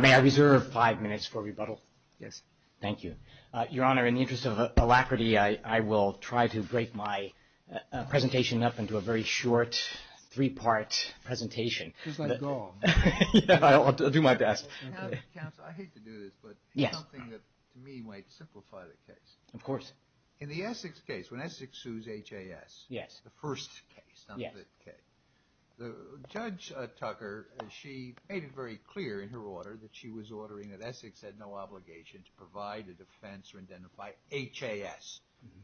May I reserve five minutes for rebuttal? Yes. Thank you. Your Honor, in the interest of alacrity, I will try to break my presentation up into a very short, three-part presentation. Just let go. I'll do my best. Counsel, I hate to do this, but something that, to me, might simplify the case. Of course. In the Essex case, when Essex sues H.A.S., the first case, Judge Tucker, she made it very clear in her order that she was ordering that Essex had no obligation to provide a defense or identify H.A.S.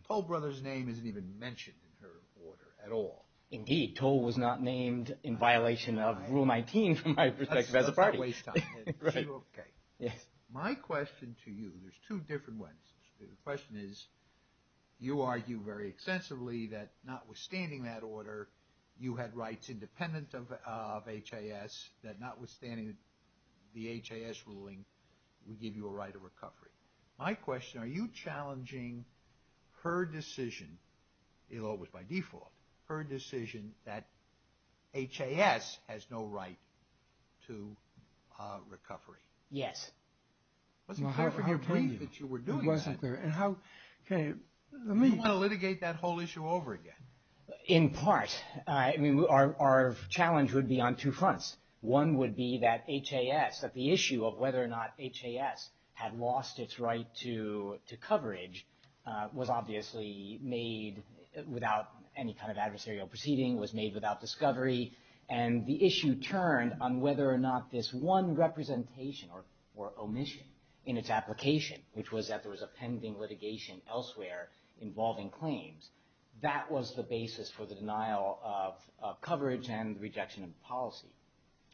Toll Brothers' name isn't even mentioned in her order at all. Indeed. Toll was not named in violation of Rule 19, from my perspective, as a party. That's a waste of time. Is she okay? Yes. My question to you, there's two different ones. The first is, you argue very extensively that, notwithstanding that order, you had rights independent of H.A.S., that, notwithstanding the H.A.S. ruling, would give you a right of recovery. My question, are you challenging her decision, although it was by default, her decision that H.A.S. has no right to recovery? Yes. It wasn't clear from your point that you were doing that. It wasn't clear. And how, can you, let me... Do you want to litigate that whole issue over again? In part. I mean, our challenge would be on two fronts. One would be that H.A.S., that the issue of whether or not H.A.S. had lost its right to coverage was obviously made without any kind of adversarial proceeding, was made without discovery, and the issue turned on whether or not this one representation or omission in its application, which was that there was a pending litigation elsewhere involving claims, that was the basis for the denial of coverage and the rejection of policy.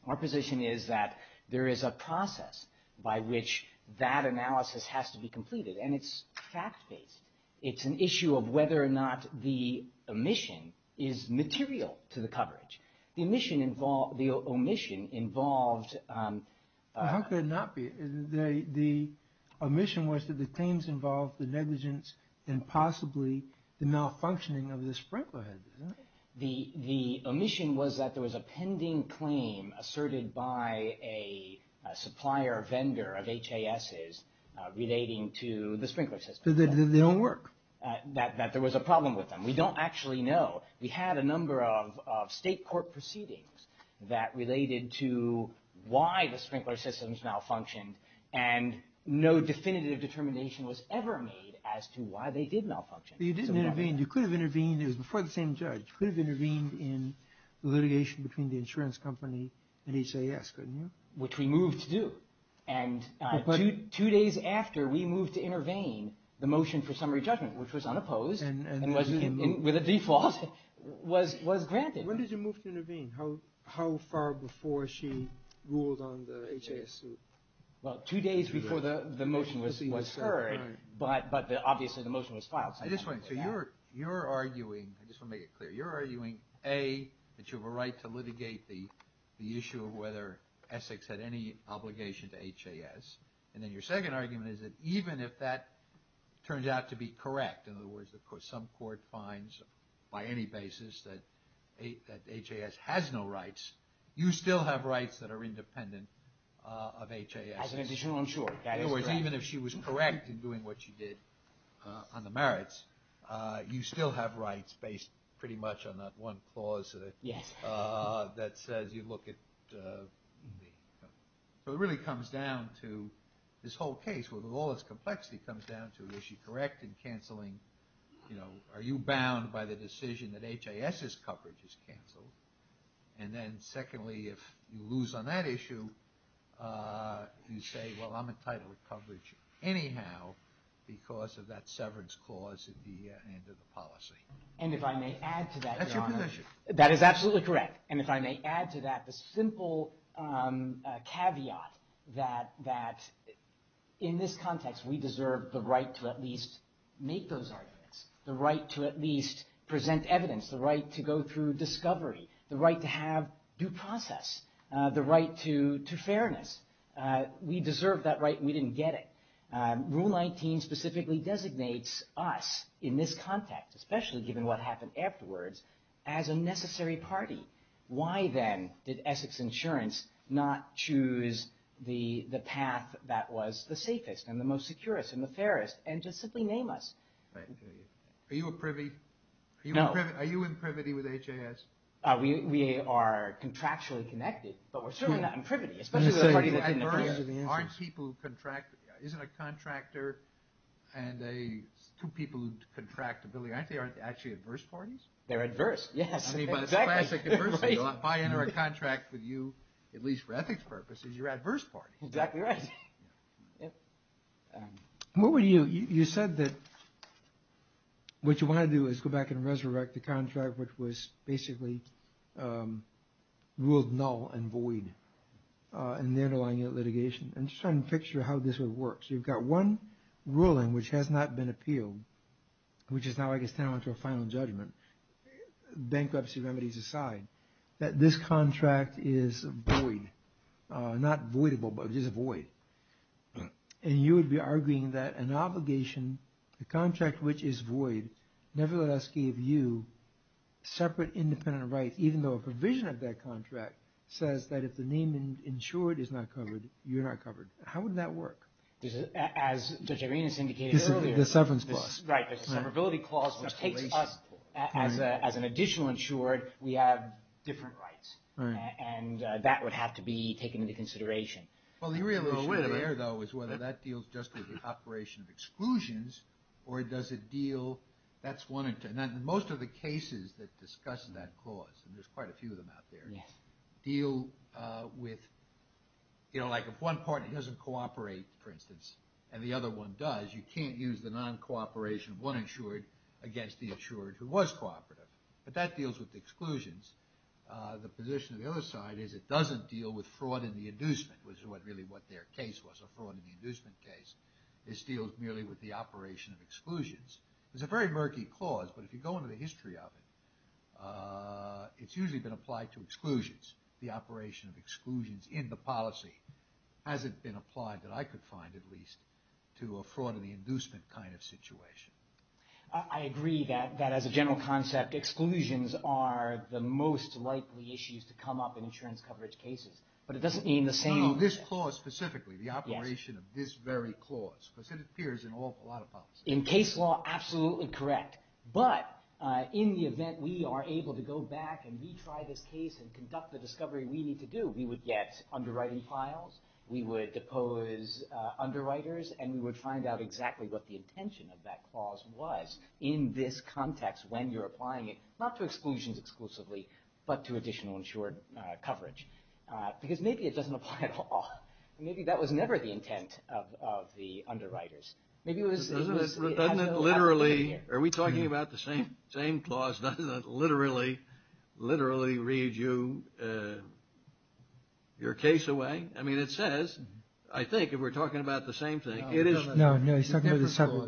Our position is that there is a process by which that analysis has to be completed, and it's fact-based. It's an issue of whether or not the omission is material to the coverage. The omission involved... Well, how could it not be? The omission was that the claims involved the negligence and possibly the malfunctioning of the sprinkler head, isn't it? The omission was that there was a pending claim asserted by a supplier or vendor of H.A.S.'s relating to the sprinkler system. So that they don't work. That there was a problem with them. We don't actually know. We had a number of state court proceedings that related to why the sprinkler systems malfunctioned, and no definitive determination was ever made as to why they did malfunction. But you didn't intervene. You could have intervened. It was before the same judge. You could have intervened in the litigation between the insurance company and H.A.S., couldn't you? Which we moved to do. And two days after we moved to intervene, the motion for summary judgment, which was unopposed and with a default, was granted. When did you move to intervene? How far before she ruled on the H.A.S. suit? Well, two days before the motion was heard, but obviously the motion was filed. So you're arguing, I just want to make it clear, you're arguing A, that you have a right to litigate the issue of whether Essex had any obligation to H.A.S., and then your second argument is that even if that turns out to be correct, in other words, some court finds by any basis that H.A.S. has no rights, you still have rights that are independent of H.A.S. As an additional insurer, that is correct. In other words, even if she was correct in doing what she did on the merits, you still have rights based pretty much on that one clause that says you look at the... So it really comes down to this whole case, where all this complexity comes down to, is she correct in canceling, you know, are you bound by the decision that H.A.S.'s coverage is canceled? And then secondly, if you lose on that issue, you say, well, I'm entitled to coverage anyhow because of that severance clause at the end of the policy. And if I may add to that, Your Honor... That's your position. That is absolutely correct. And if I may add to that the simple caveat that in this context, we deserve the right to at least make those arguments, the right to at least present evidence, the right to go through discovery, the right to have due process, the right to fairness. We deserve that right and we didn't get it. Rule 19 specifically designates us in this context, especially given what happened afterwards, as a necessary party. Why then did Essex Insurance not choose the path that was the safest and the most secure and the fairest and just simply name us? Are you a privy? No. Are you in privity with H.A.S.? We are contractually connected, but we're certainly not in privity, especially with a party that didn't appear. Aren't people who contract... Isn't a contractor and two people who contract a billionaire, aren't they actually adverse parties? They're adverse, yes. I mean, by this classic adversity, if I enter a contract with you, at least for ethics purposes, you're adverse party. Exactly right. What would you... You said that what you want to do is go back and resurrect the contract which was basically ruled null and void in the underlying litigation. I'm just trying to picture how this would work. You've got one ruling which has not been appealed, which is now, I guess, down to a final judgment. Bankruptcy remedies aside, that this contract is void. Not voidable, but just void. And you would be arguing that an obligation, a contract which is void, never let us give you separate independent rights, even though a provision of that contract says that if the name insured is not covered, you're not covered. How would that work? As Judge Arenas indicated earlier... The severance clause. Right, the severability clause, which takes us as an additional insured, we have different rights. And that would have to be taken into consideration. Well, the real issue there, though, is whether that deals just with the operation of exclusions, or does it deal... And most of the cases that discuss that clause, and there's quite a few of them out there, deal with... You know, like if one partner doesn't cooperate, for instance, and the other one does, you can't use the non-cooperation of one insured against the insured who was cooperative. But that deals with the exclusions. The position of the other side is it doesn't deal with fraud in the inducement, which is really what their case was, a fraud in the inducement case. This deals merely with the operation of exclusions. It's a very murky clause, but if you go into the history of it, it's usually been applied to exclusions. The operation of exclusions in the policy hasn't been applied, that I could find at least, to a fraud in the inducement kind of situation. I agree that as a general concept, exclusions are the most likely issues to come up in insurance coverage cases, but it doesn't mean the same... No, no, this clause specifically, the operation of this very clause, because it appears in a lot of policies. In case law, absolutely correct, but in the event we are able to go back and retry this case and conduct the discovery we need to do, we would get underwriting files, we would depose underwriters, and we would find out exactly what the intention of that clause was in this context when you're applying it, not to exclusions exclusively, but to additional insured coverage. Because maybe it doesn't apply at all. Maybe that was never the intent of the underwriters. Doesn't it literally, are we talking about the same clause, doesn't it literally read your case away? I mean, it says, I think, if we're talking about the same thing. No, no, he's talking about the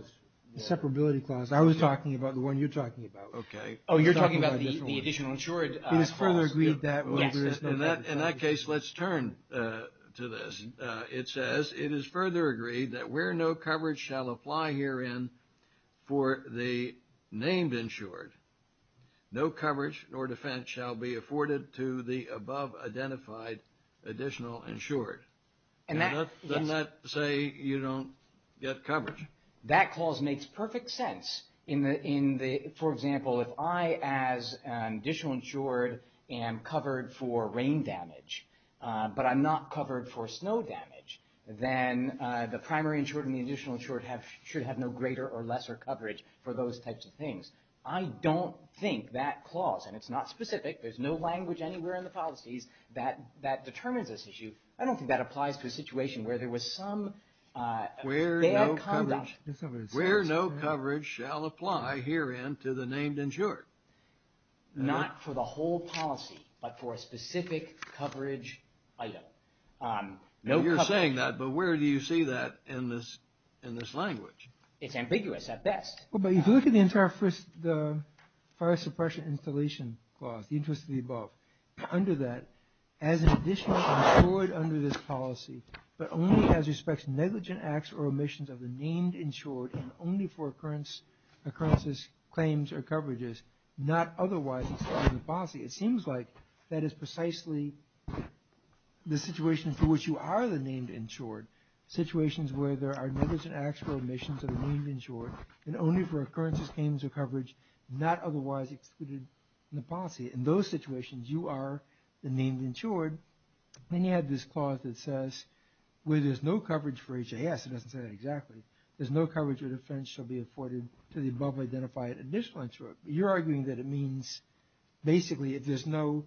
separability clause. I was talking about the one you're talking about. Oh, you're talking about the additional insured clause. It is further agreed that... In that case, let's turn to this. It says, it is further agreed that where no coverage shall apply herein for the named insured, no coverage nor defense shall be afforded to the above identified additional insured. Doesn't that say you don't get coverage? That clause makes perfect sense. For example, if I, as an additional insured, am covered for rain damage, but I'm not covered for snow damage, then the primary insured and the additional insured should have no greater or lesser coverage for those types of things. I don't think that clause, and it's not specific, there's no language anywhere in the policies that determines this issue, I don't think that applies to a situation where there was some... Where no coverage shall apply herein to the named insured. Not for the whole policy, but for a specific coverage item. You're saying that, but where do you see that in this language? It's ambiguous at best. But if you look at the entire fire suppression installation clause, the interest of the above, under that, as an additional insured under this policy, but only as respects negligent acts or omissions of the named insured and only for occurrences, claims, or coverages, not otherwise excluded in the policy. It seems like that is precisely the situation for which you are the named insured. Situations where there are negligent acts or omissions of the named insured, and only for occurrences, claims, or coverage, not otherwise excluded in the policy. In those situations, you are the named insured. Then you have this clause that says, where there's no coverage for HIS, it doesn't say that exactly, there's no coverage or defense shall be afforded to the above identified additional insured. You're arguing that it means, basically, if there's no...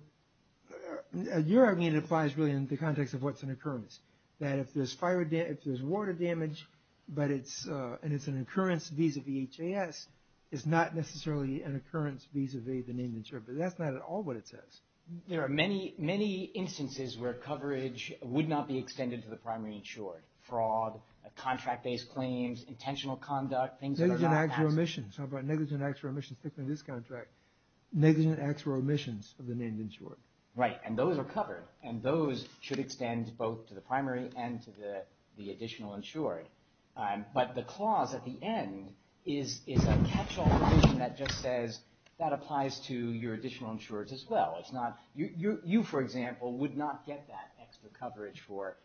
You're arguing it applies really in the context of what's an occurrence. That if there's water damage, and it's an occurrence vis-a-vis HIS, it's not necessarily an occurrence vis-a-vis the named insured. But that's not at all what it says. There are many instances where coverage would not be extended to the primary insured. Fraud, contract-based claims, intentional conduct, things like that. Negligent acts or omissions. How about negligent acts or omissions, particularly this contract. Negligent acts or omissions of the named insured. Right, and those are covered. And those should extend both to the primary and to the additional insured. But the clause at the end is a catch-all provision that just says, that applies to your additional insureds as well. You, for example, would not get that extra coverage for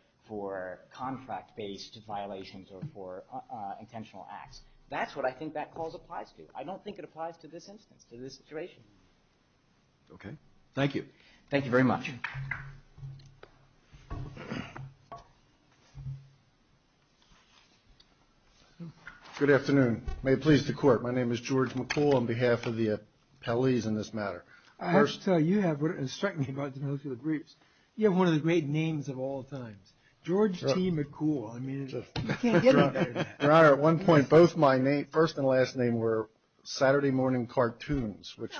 contract-based violations or for intentional acts. That's what I think that clause applies to. I don't think it applies to this instance, to this situation. Okay, thank you. Thank you very much. Good afternoon. May it please the Court. My name is George McCool on behalf of the appellees in this matter. I have to tell you, you have what has struck me about the most of the briefs. You have one of the great names of all times, George T. McCool. I mean, you can't get any better than that. Your Honor, at one point, both my first and last name were Saturday morning cartoons, which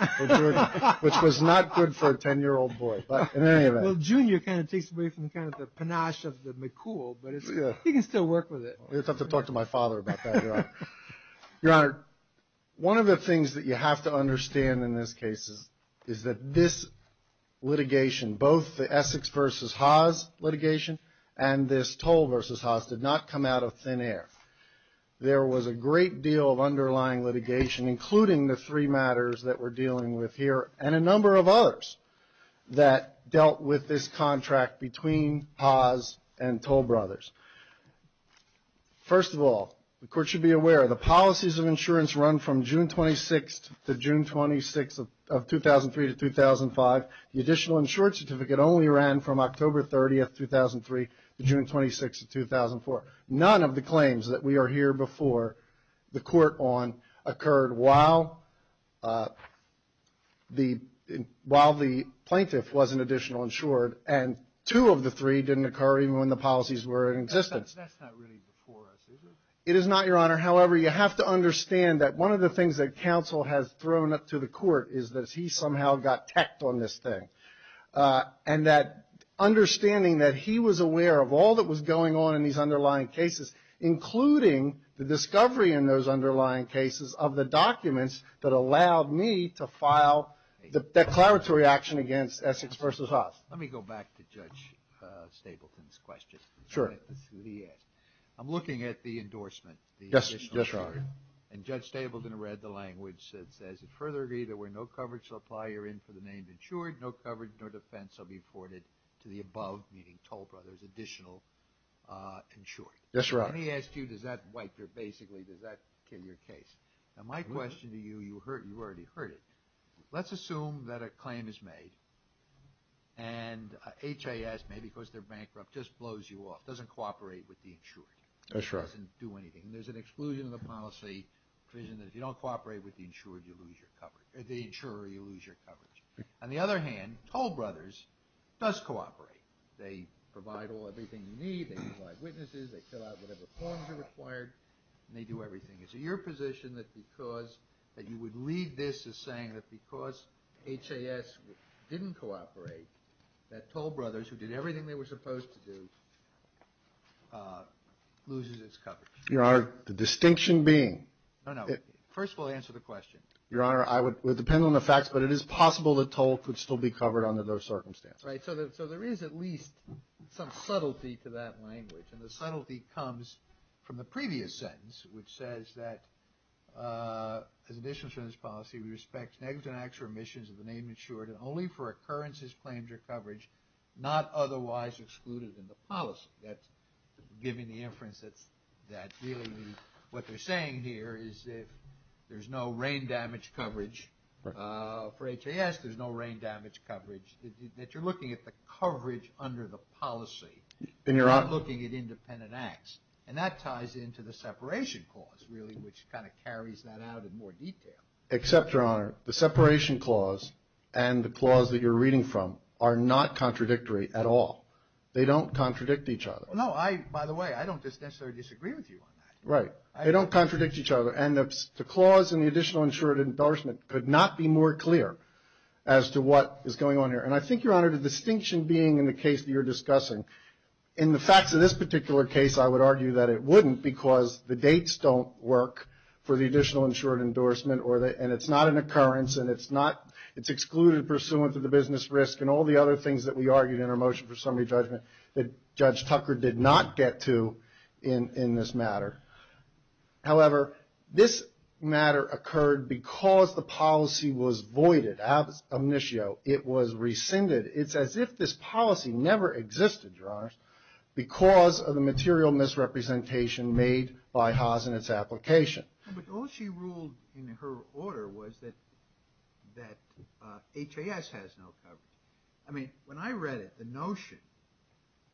was not good for a 10-year-old boy. But in any event. Well, Junior kind of takes away from the panache of the McCool, but he can still work with it. You'll have to talk to my father about that, Your Honor. Your Honor, one of the things that you have to understand in this case is that this litigation, both the Essex v. Haas litigation and this Toll v. Haas did not come out of thin air. There was a great deal of underlying litigation, including the three matters that we're dealing with here and a number of others that dealt with this contract between Haas and Toll Brothers. First of all, the Court should be aware the policies of insurance run from June 26th to June 26th of 2003 to 2005. The additional insured certificate only ran from October 30th, 2003 to June 26th of 2004. None of the claims that we are here before the Court on occurred while the plaintiff was an additional insured. And two of the three didn't occur even when the policies were in existence. That's not really before us, is it? It is not, Your Honor. However, you have to understand that one of the things that counsel has thrown up to the Court is that he somehow got teched on this thing. And that understanding that he was aware of all that was going on in these underlying cases, including the discovery in those underlying cases of the documents that allowed me to file the declaratory action against Essex v. Haas. Let me go back to Judge Stapleton's question. Sure. I'm looking at the endorsement. Yes, Your Honor. And Judge Stapleton read the language that says, if further agreed that where no coverage shall apply, you're in for the name insured. No coverage, no defense, shall be afforded to the above, meaning Toll Brothers, additional insured. Yes, Your Honor. Let me ask you, does that basically kill your case? Now, my question to you, you've already heard it. Let's assume that a claim is made and Haas, maybe because they're bankrupt, just blows you off, doesn't cooperate with the insured. That's right. Doesn't do anything. There's an exclusion in the policy provision that if you don't cooperate with the insured, you lose your coverage, or the insurer, you lose your coverage. On the other hand, Toll Brothers does cooperate. They provide all, everything you need. They provide witnesses. They fill out whatever forms are required. And they do everything. Is it your position that because, that you would lead this because Haas didn't cooperate, that Toll Brothers, who did everything they were supposed to do, loses its coverage? Your Honor, the distinction between Toll Brothers and Haas The distinction being No, no. First of all, answer the question. Your Honor, it depends on the facts, but it is possible that Toll could still be covered under those circumstances. Right. So there is at least some subtlety to that language. And the subtlety comes from the previous sentence, which says that as additional insurance policy, we respect negative and actual omissions of the name insured and only for occurrences, claims, or coverage not otherwise excluded in the policy. That's giving the inference that really means what they're saying here is that there's no rain damage coverage. Right. For Haas, there's no rain damage coverage. That you're looking at the coverage under the policy and you're not looking at independent acts. And that ties into the separation clause, really, which kind of carries that out in more detail. Except, Your Honor, the separation clause and the clause that you're reading from are not contradictory at all. They don't contradict each other. No, I, by the way, I don't necessarily disagree with you on that. Right. They don't contradict each other. And the clause in the additional insured endorsement could not be more clear as to what is going on here. And I think, Your Honor, the distinction being in the case that you're discussing, in the facts of this particular case, I would argue that it wouldn't because the dates don't work for the additional insured endorsement and it's not an occurrence and it's excluded pursuant to the business risk and all the other things that we argued in our motion for summary judgment that Judge Tucker did not get to in this matter. However, this matter occurred because the policy was voided, as omniscio, it was rescinded. It's as if this policy never existed, Your Honors, because of the material misrepresentation made by Haas in its application. was that that HAS has no coverage. I mean, when I read it, the notion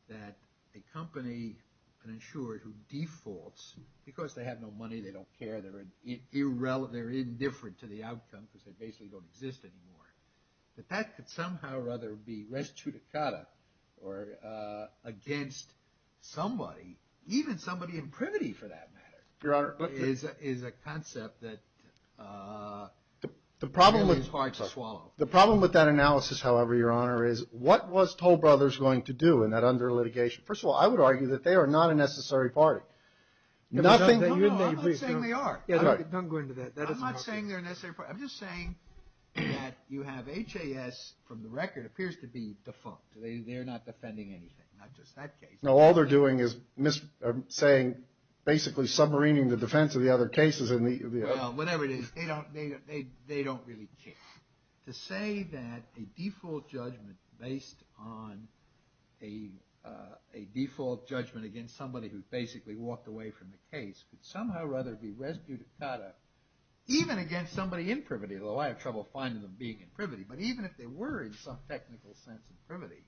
that a company has no coverage in the case of an insured endorsement that a company an insured who defaults because they have no money they don't care they're irrelevant they're indifferent to the outcome because they basically don't exist anymore that that could somehow rather be res judicata or against somebody even somebody in privity for that matter Your Honor, is a concept that is hard to swallow. The problem with that analysis, however, Your Honor, is what was Toll Brothers going to do in that under litigation? First of all, I would argue that they are not a necessary party. I'm not saying they are. Don't go into that. I'm not saying they're a necessary party. I'm just saying that you have HAS from the record appears to be defunct. They're not defending anything. Not just that case. No, all they're doing is saying basically submarine the defense of the other cases. Well, whatever it is, they don't really care. To say that a default judgment based on a default judgment against somebody who basically walked away from the case could somehow rather be rescued even against somebody in privity though I have trouble finding them being in privity but even if they were in some technical sense in privity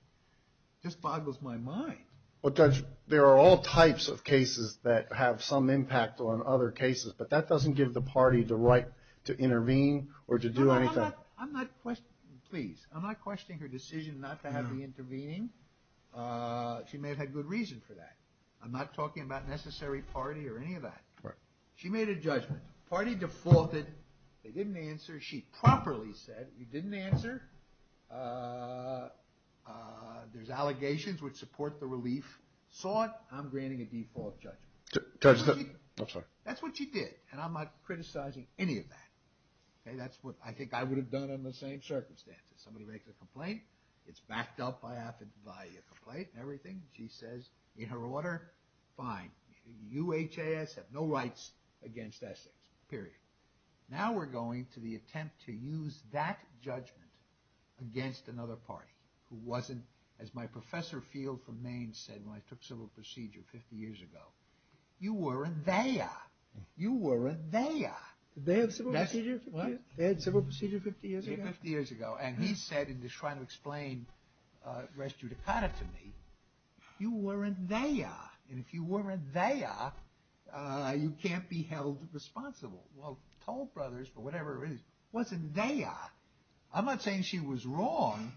just boggles my mind. Well Judge, there are all types of cases that have some impact on other cases but that doesn't give the party the right to intervene or to do anything. I'm not questioning, please, I'm not questioning her decision not to have the intervening. She may have had good reason for that. I'm not talking about necessary party or any of that. She made a judgment. The party defaulted. They didn't answer. She properly said, you didn't answer. There's allegations which support the relief. Saw it, I'm granting a default judgment. That's what she did and I'm not criticizing any of that. That's what I think I would have done in the same circumstances. Somebody makes a complaint, it's backed up by a complaint and everything. She says, in her order, fine, you HAS have no rights against Essex, period. Now we're going to the attempt to use that judgment against another party who wasn't, as my professor field from Maine said when I took civil procedure 50 years ago, you weren't there. You weren't there. Did they have civil procedure 50 years ago? 50 years ago and he said in trying to explain res judicata to me, you weren't there and if you weren't there, you can't be held responsible. Well, Toll Brothers, for whatever reason, wasn't there. I'm not saying she was wrong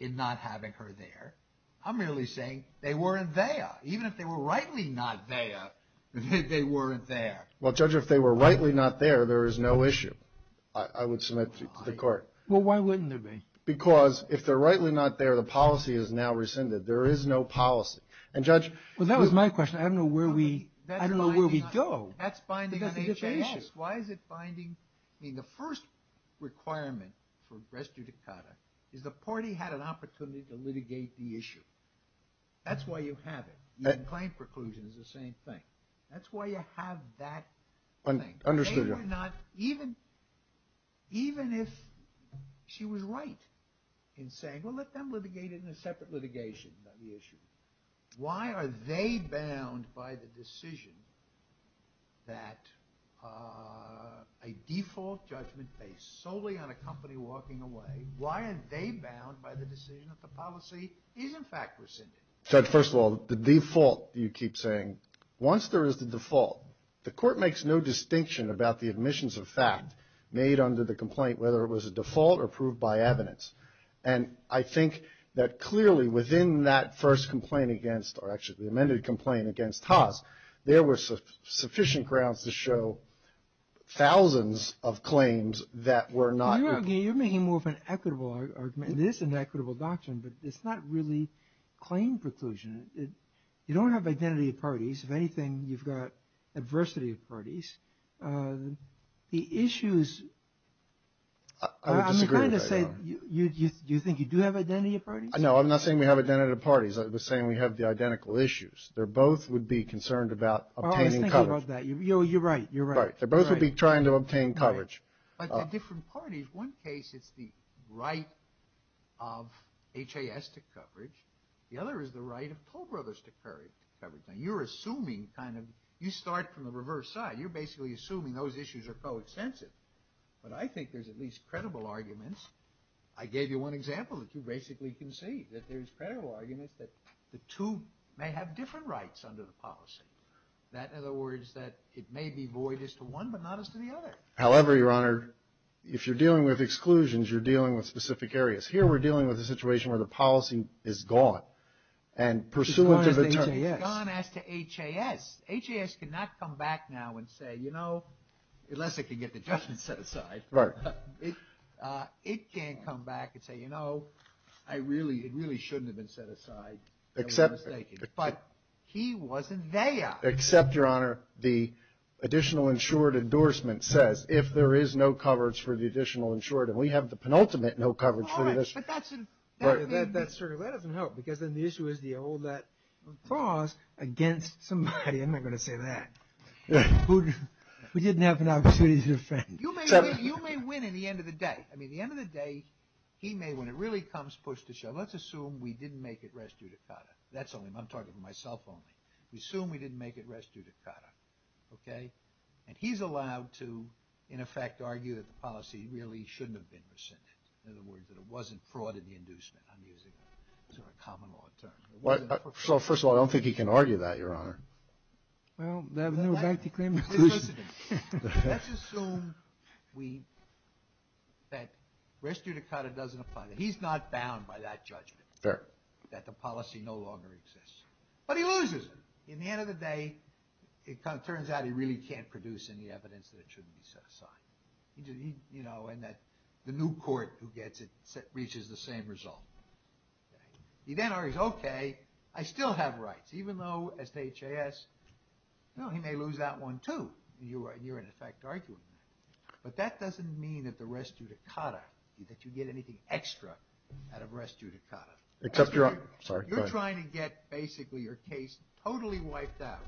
in not having her there. I'm merely saying they weren't there. Even if they were rightly not there, they weren't there. Well, Judge, if they were rightly not there, there is no issue. I would submit to the court. Well, why wouldn't there be? Because if they're rightly not there, the policy is now rescinded. There is no policy. And Judge, that was my question. I don't know where we go. That's binding on each issue. Why is it binding? I mean, the first requirement for rest judicata is the party had an opportunity to litigate the issue. That's why you have it. The claim preclusion is the same thing. That's why you have that preclusion. They were not even if she was right in saying, well, let them litigate it in a separate litigation on the issue. Why are they bound by the decision that a default judgment based solely on a company walking away, why are they bound by the decision that the policy is in fact rescinded? Judge, first of all, the default you keep saying, once there is the default, the court makes no distinction about the admissions of fact made under the complaint, whether it was a default or proved by evidence. And I think that clearly within that first complaint against Haas, there were sufficient grounds to show thousands of claims that were not true. You're making more of an equitable argument. It is an equitable doctrine, but it's not really claim preclusion. You don't have identity of parties. If anything, you've got adversity of parties. The issues, I'm trying to say, do you think you do have identity of parties? In one case, it's the right of Haas to coverage. The other is the right of Toll Brothers to coverage. Now, you're assuming kind of, you start from the reverse side. You're basically assuming those issues are co- with exclusions. You're dealing with specific areas. Here, we're dealing with a situation where the policy is gone. It's gone as to Haas. Haas cannot come back now and say, unless they can get the judgment set aside, it can't come back and say, you know, it really shouldn't have been set aside. But, he wasn't there. Except, your honor, the additional insured endorsement says, if there is no coverage for the additional insured, and we have the penultimate no coverage for this. That doesn't help, because then the issue is, do you hold that clause against somebody? I'm not going to say that. We didn't have an opportunity to defend. You may win in the end of the day. I mean, the end of the day. It was a common law in terms. So, first of all, I don't think he can argue that, your honor. Well, then we're back to claim inclusion. Let's assume that he's not bound by that judgment, that the policy no longer exists. But he loses it. In the end of the day, it turns out he really can't produce any evidence that it shouldn't be set aside. The new court reaches the same result. He can't get anything out of this case except mean that the res judicata that you get anything extra out of res judicata. You're trying to get basically your evidence out of this case because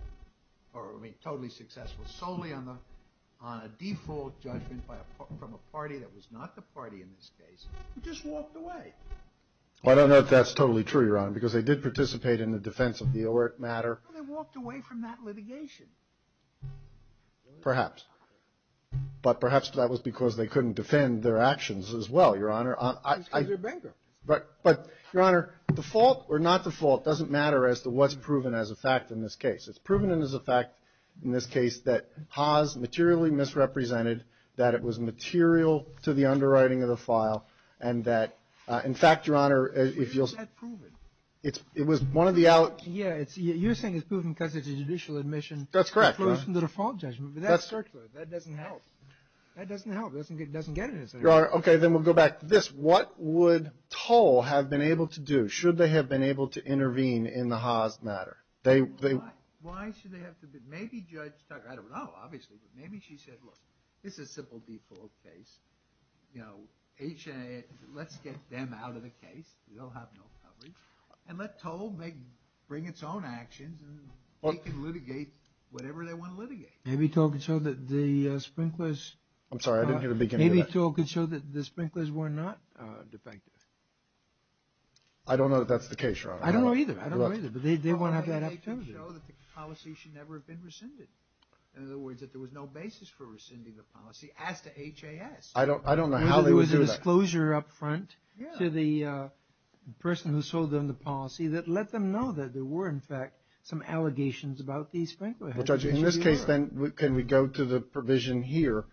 they couldn't defend their actions as well. Your Honor, the fault or not the fault doesn't matter as to what's proven as a fact in this case. It's proven as a fact in this case that Haas materially misrepresented that it was material underwriting of the file. And that in fact, Your Honor, it was one of the out You're saying it's proven because it's a judicial admission. That's correct. That doesn't help. That doesn't help. It doesn't get it. Your Honor, okay, then we'll go back to this. What would Toll have been able to do? Should they have been able to intervene in the Haas matter? Why should they have to intervene? Maybe Judge Tucker, I don't know, obviously, but maybe she said, look, this is a simple default case. Let's get them out of the case. They'll have no coverage. And let Toll bring its own actions and they can litigate whatever they want to litigate. Maybe Toll could show that the sprinklers were not defective. I don't know if that's the case, Your Honor. I don't know how do that. Maybe there was a disclosure up front to the person who sold them the policy that let them know that there were, in fact, some allegations about these sprinklers. In this case, then, can we go to the provision here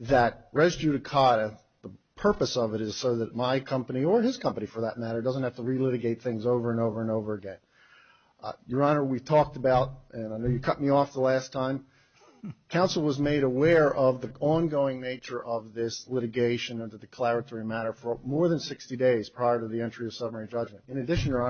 that res judicata, the purpose of it is so that my company or his company, for that matter, doesn't have to relitigate things over and over and over again. Your Honor, we've talked about, and I know you cut me off the last time, counsel was made aware of the ongoing nature of this litigation of the declaratory matter for more than 60 days after the fact. Your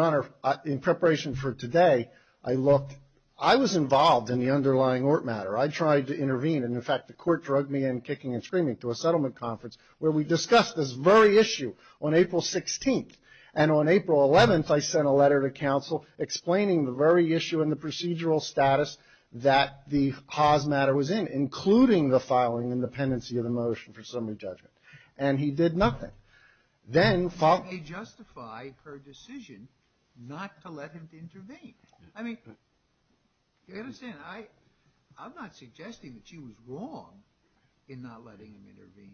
Honor, in preparation for today, I looked, I was involved in the underlying ort matter. I tried to intervene and, in fact, the court drugged me in kicking and screaming to a settlement conference where we discussed this very issue on April 16th and on April 11th I sent a written judge him to intervene and then follow. You may justify her decision not to let him intervene. I mean, you understand, I'm not suggesting that she was wrong in not letting him intervene.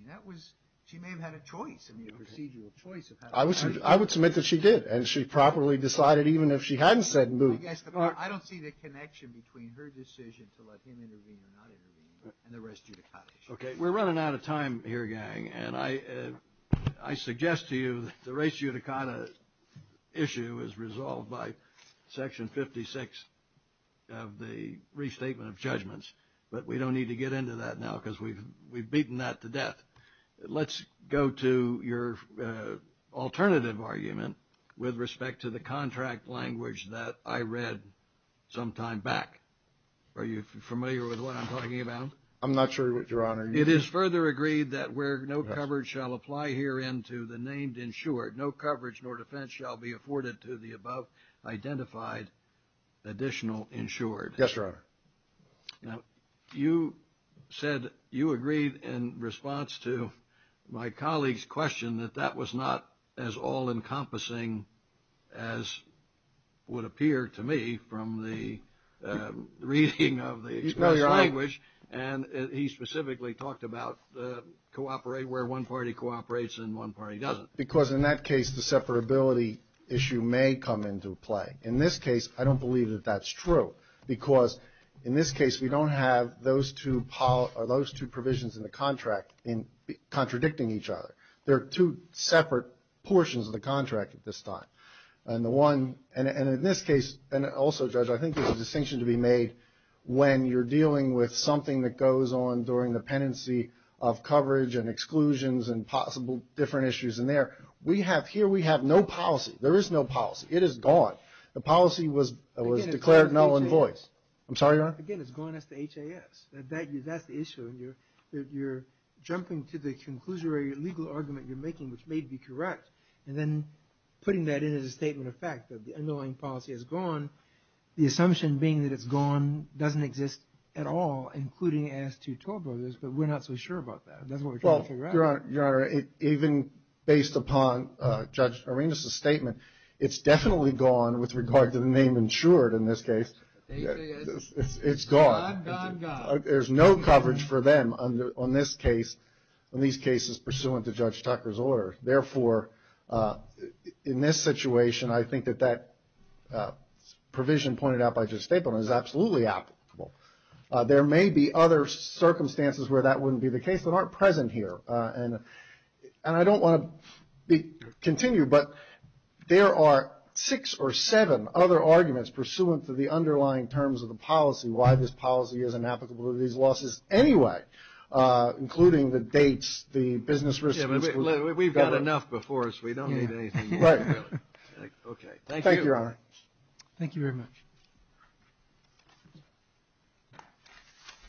She may have had a choice, a procedural choice. I would submit that she did and she properly decided even if she hadn't said no. I don't see the connection between her decision to let him intervene or not intervene and the res judicata issue. Okay, we're running out of time here, gang, and I suggest to you the res judicata issue is the I would suggest that you go to your alternative argument with respect to the contract language that I read some time back. Are you familiar with what I'm talking about? I'm not sure, Your Honor. It is further agreed that where no coverage shall apply here into the named insured, no coverage nor defense afforded to the above identified additional insured. Yes, Your Honor. Now, you said you agreed in response to my colleague's question that that was not as all encompassing as would appear to me from the reading of the contract language. And he specifically talked about cooperate where one party cooperates and one party doesn't. Because in that case, the separability issue may come into play. In this case, I don't believe that that's true. Because in this case, we don't have those two provisions in the contract in contradicting each other. There are two separate portions of the contract at this time. And in this case, and also, Judge, I think there's a distinction to be made when you're dealing with something that goes on during the pendency of coverage and exclusions and possible different issues in there. Here we have no policy. There is no policy. It is gone. The policy was in voice. I'm sorry, Your Honor? Again, it's gone as to HAS. That's the issue. You're jumping to the conclusion or legal argument you're making, which may be correct, and then putting that in as a statement of fact that the underlying policy is gone, the assumption being that it's gone doesn't exist at all, including AS 212 of this, but we're not so sure about that. That's what we're trying to figure out. Well, Your Honor, even based upon Judge Arenas' statement, it's definitely gone with regard to the name insured in this case. It's gone. Gone, gone, gone. I think that provision pointed out by Judge Stapleman is absolutely applicable. There may be other circumstances where that wouldn't be the case that aren't present here, and I don't want to continue, but there are six or seven other arguments pursuant to the underlying terms of the policy, why this is the case. Thank you, Your Honor. Thank you very much.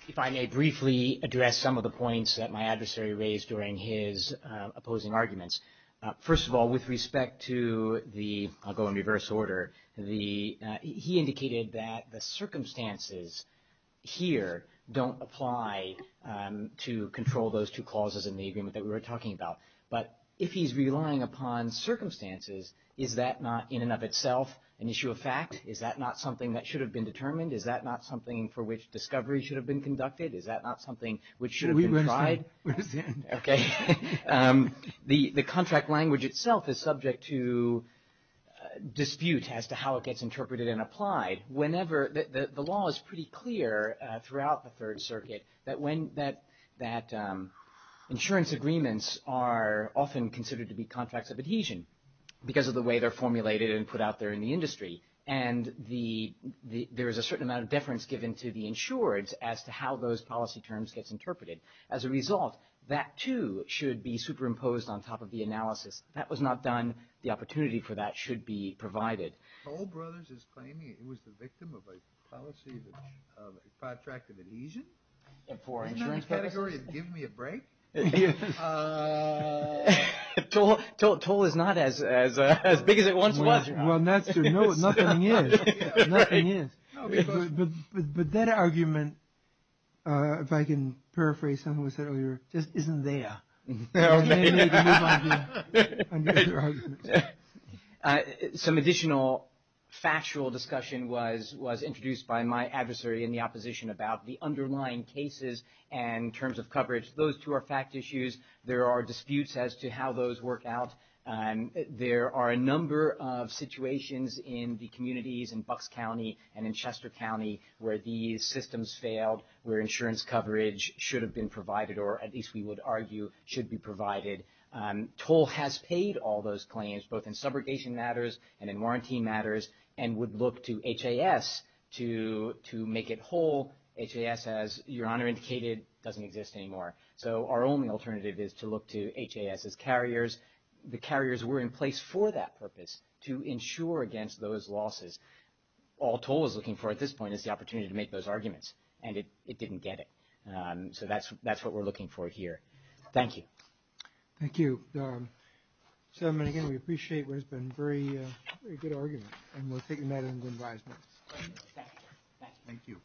If I may briefly address some of the points that my adversary raised during his opposing arguments, first of all, with respect to the, I'll go in reverse order, the, he indicated that the circumstances here don't apply to control those two clauses in the agreement that we were talking about, but if he's talking about an issue of fact, is that not something that should have been determined? Is that not something for which discovery should have been conducted? Is that not something which should have been tried? Okay. The contract language itself is subject to dispute as to how it gets interpreted and applied. Whenever, the law is pretty clear throughout the Third Circuit that when, that, that insurance agreements are often considered to be contracts of adhesion because of the way they're formulated and put out there in the industry and the, there is a certain amount of deference given to the insured as to how those policy terms get interpreted. As a result, that, too, should be superimposed on top of the analysis. That was not done. The opportunity for that should be provided. Toll Brothers is claiming it was the victim of a policy of a contract of adhesion? In that category, it would give me a break? Toll is not as big as it once was. Well, nothing is. But that argument, if I can paraphrase something we said earlier, just isn't there. Or maybe the new idea under the contract adhesion should be provided. Some additional factual discussion was introduced by my adversary in the opposition about the underlying cases and terms of coverage. Those two are fact issues. There are disputes as to how those work out. There are a number of situations in the communities in Bucks County and in Chester County where these systems failed, where insurance coverage should have been provided or at least we would argue should be provided. Toll has paid all those claims both in subrogation matters and in warranty matters and would look to HAS to make it whole. HAS, as Your Honor indicated, doesn't exist anymore. So our only alternative is to look to HAS as carriers. The carriers were in place for that purpose to ensure against those losses. All Toll is looking for at this point is the opportunity to make those arguments and it didn't get it. So that's what we're looking for here. Thank you. Thank you. Mr. Chairman, I appreciate what has been a very good argument and we will take that. Thank you. Thank you. Thank you. Thank you. Thank you. Thank you.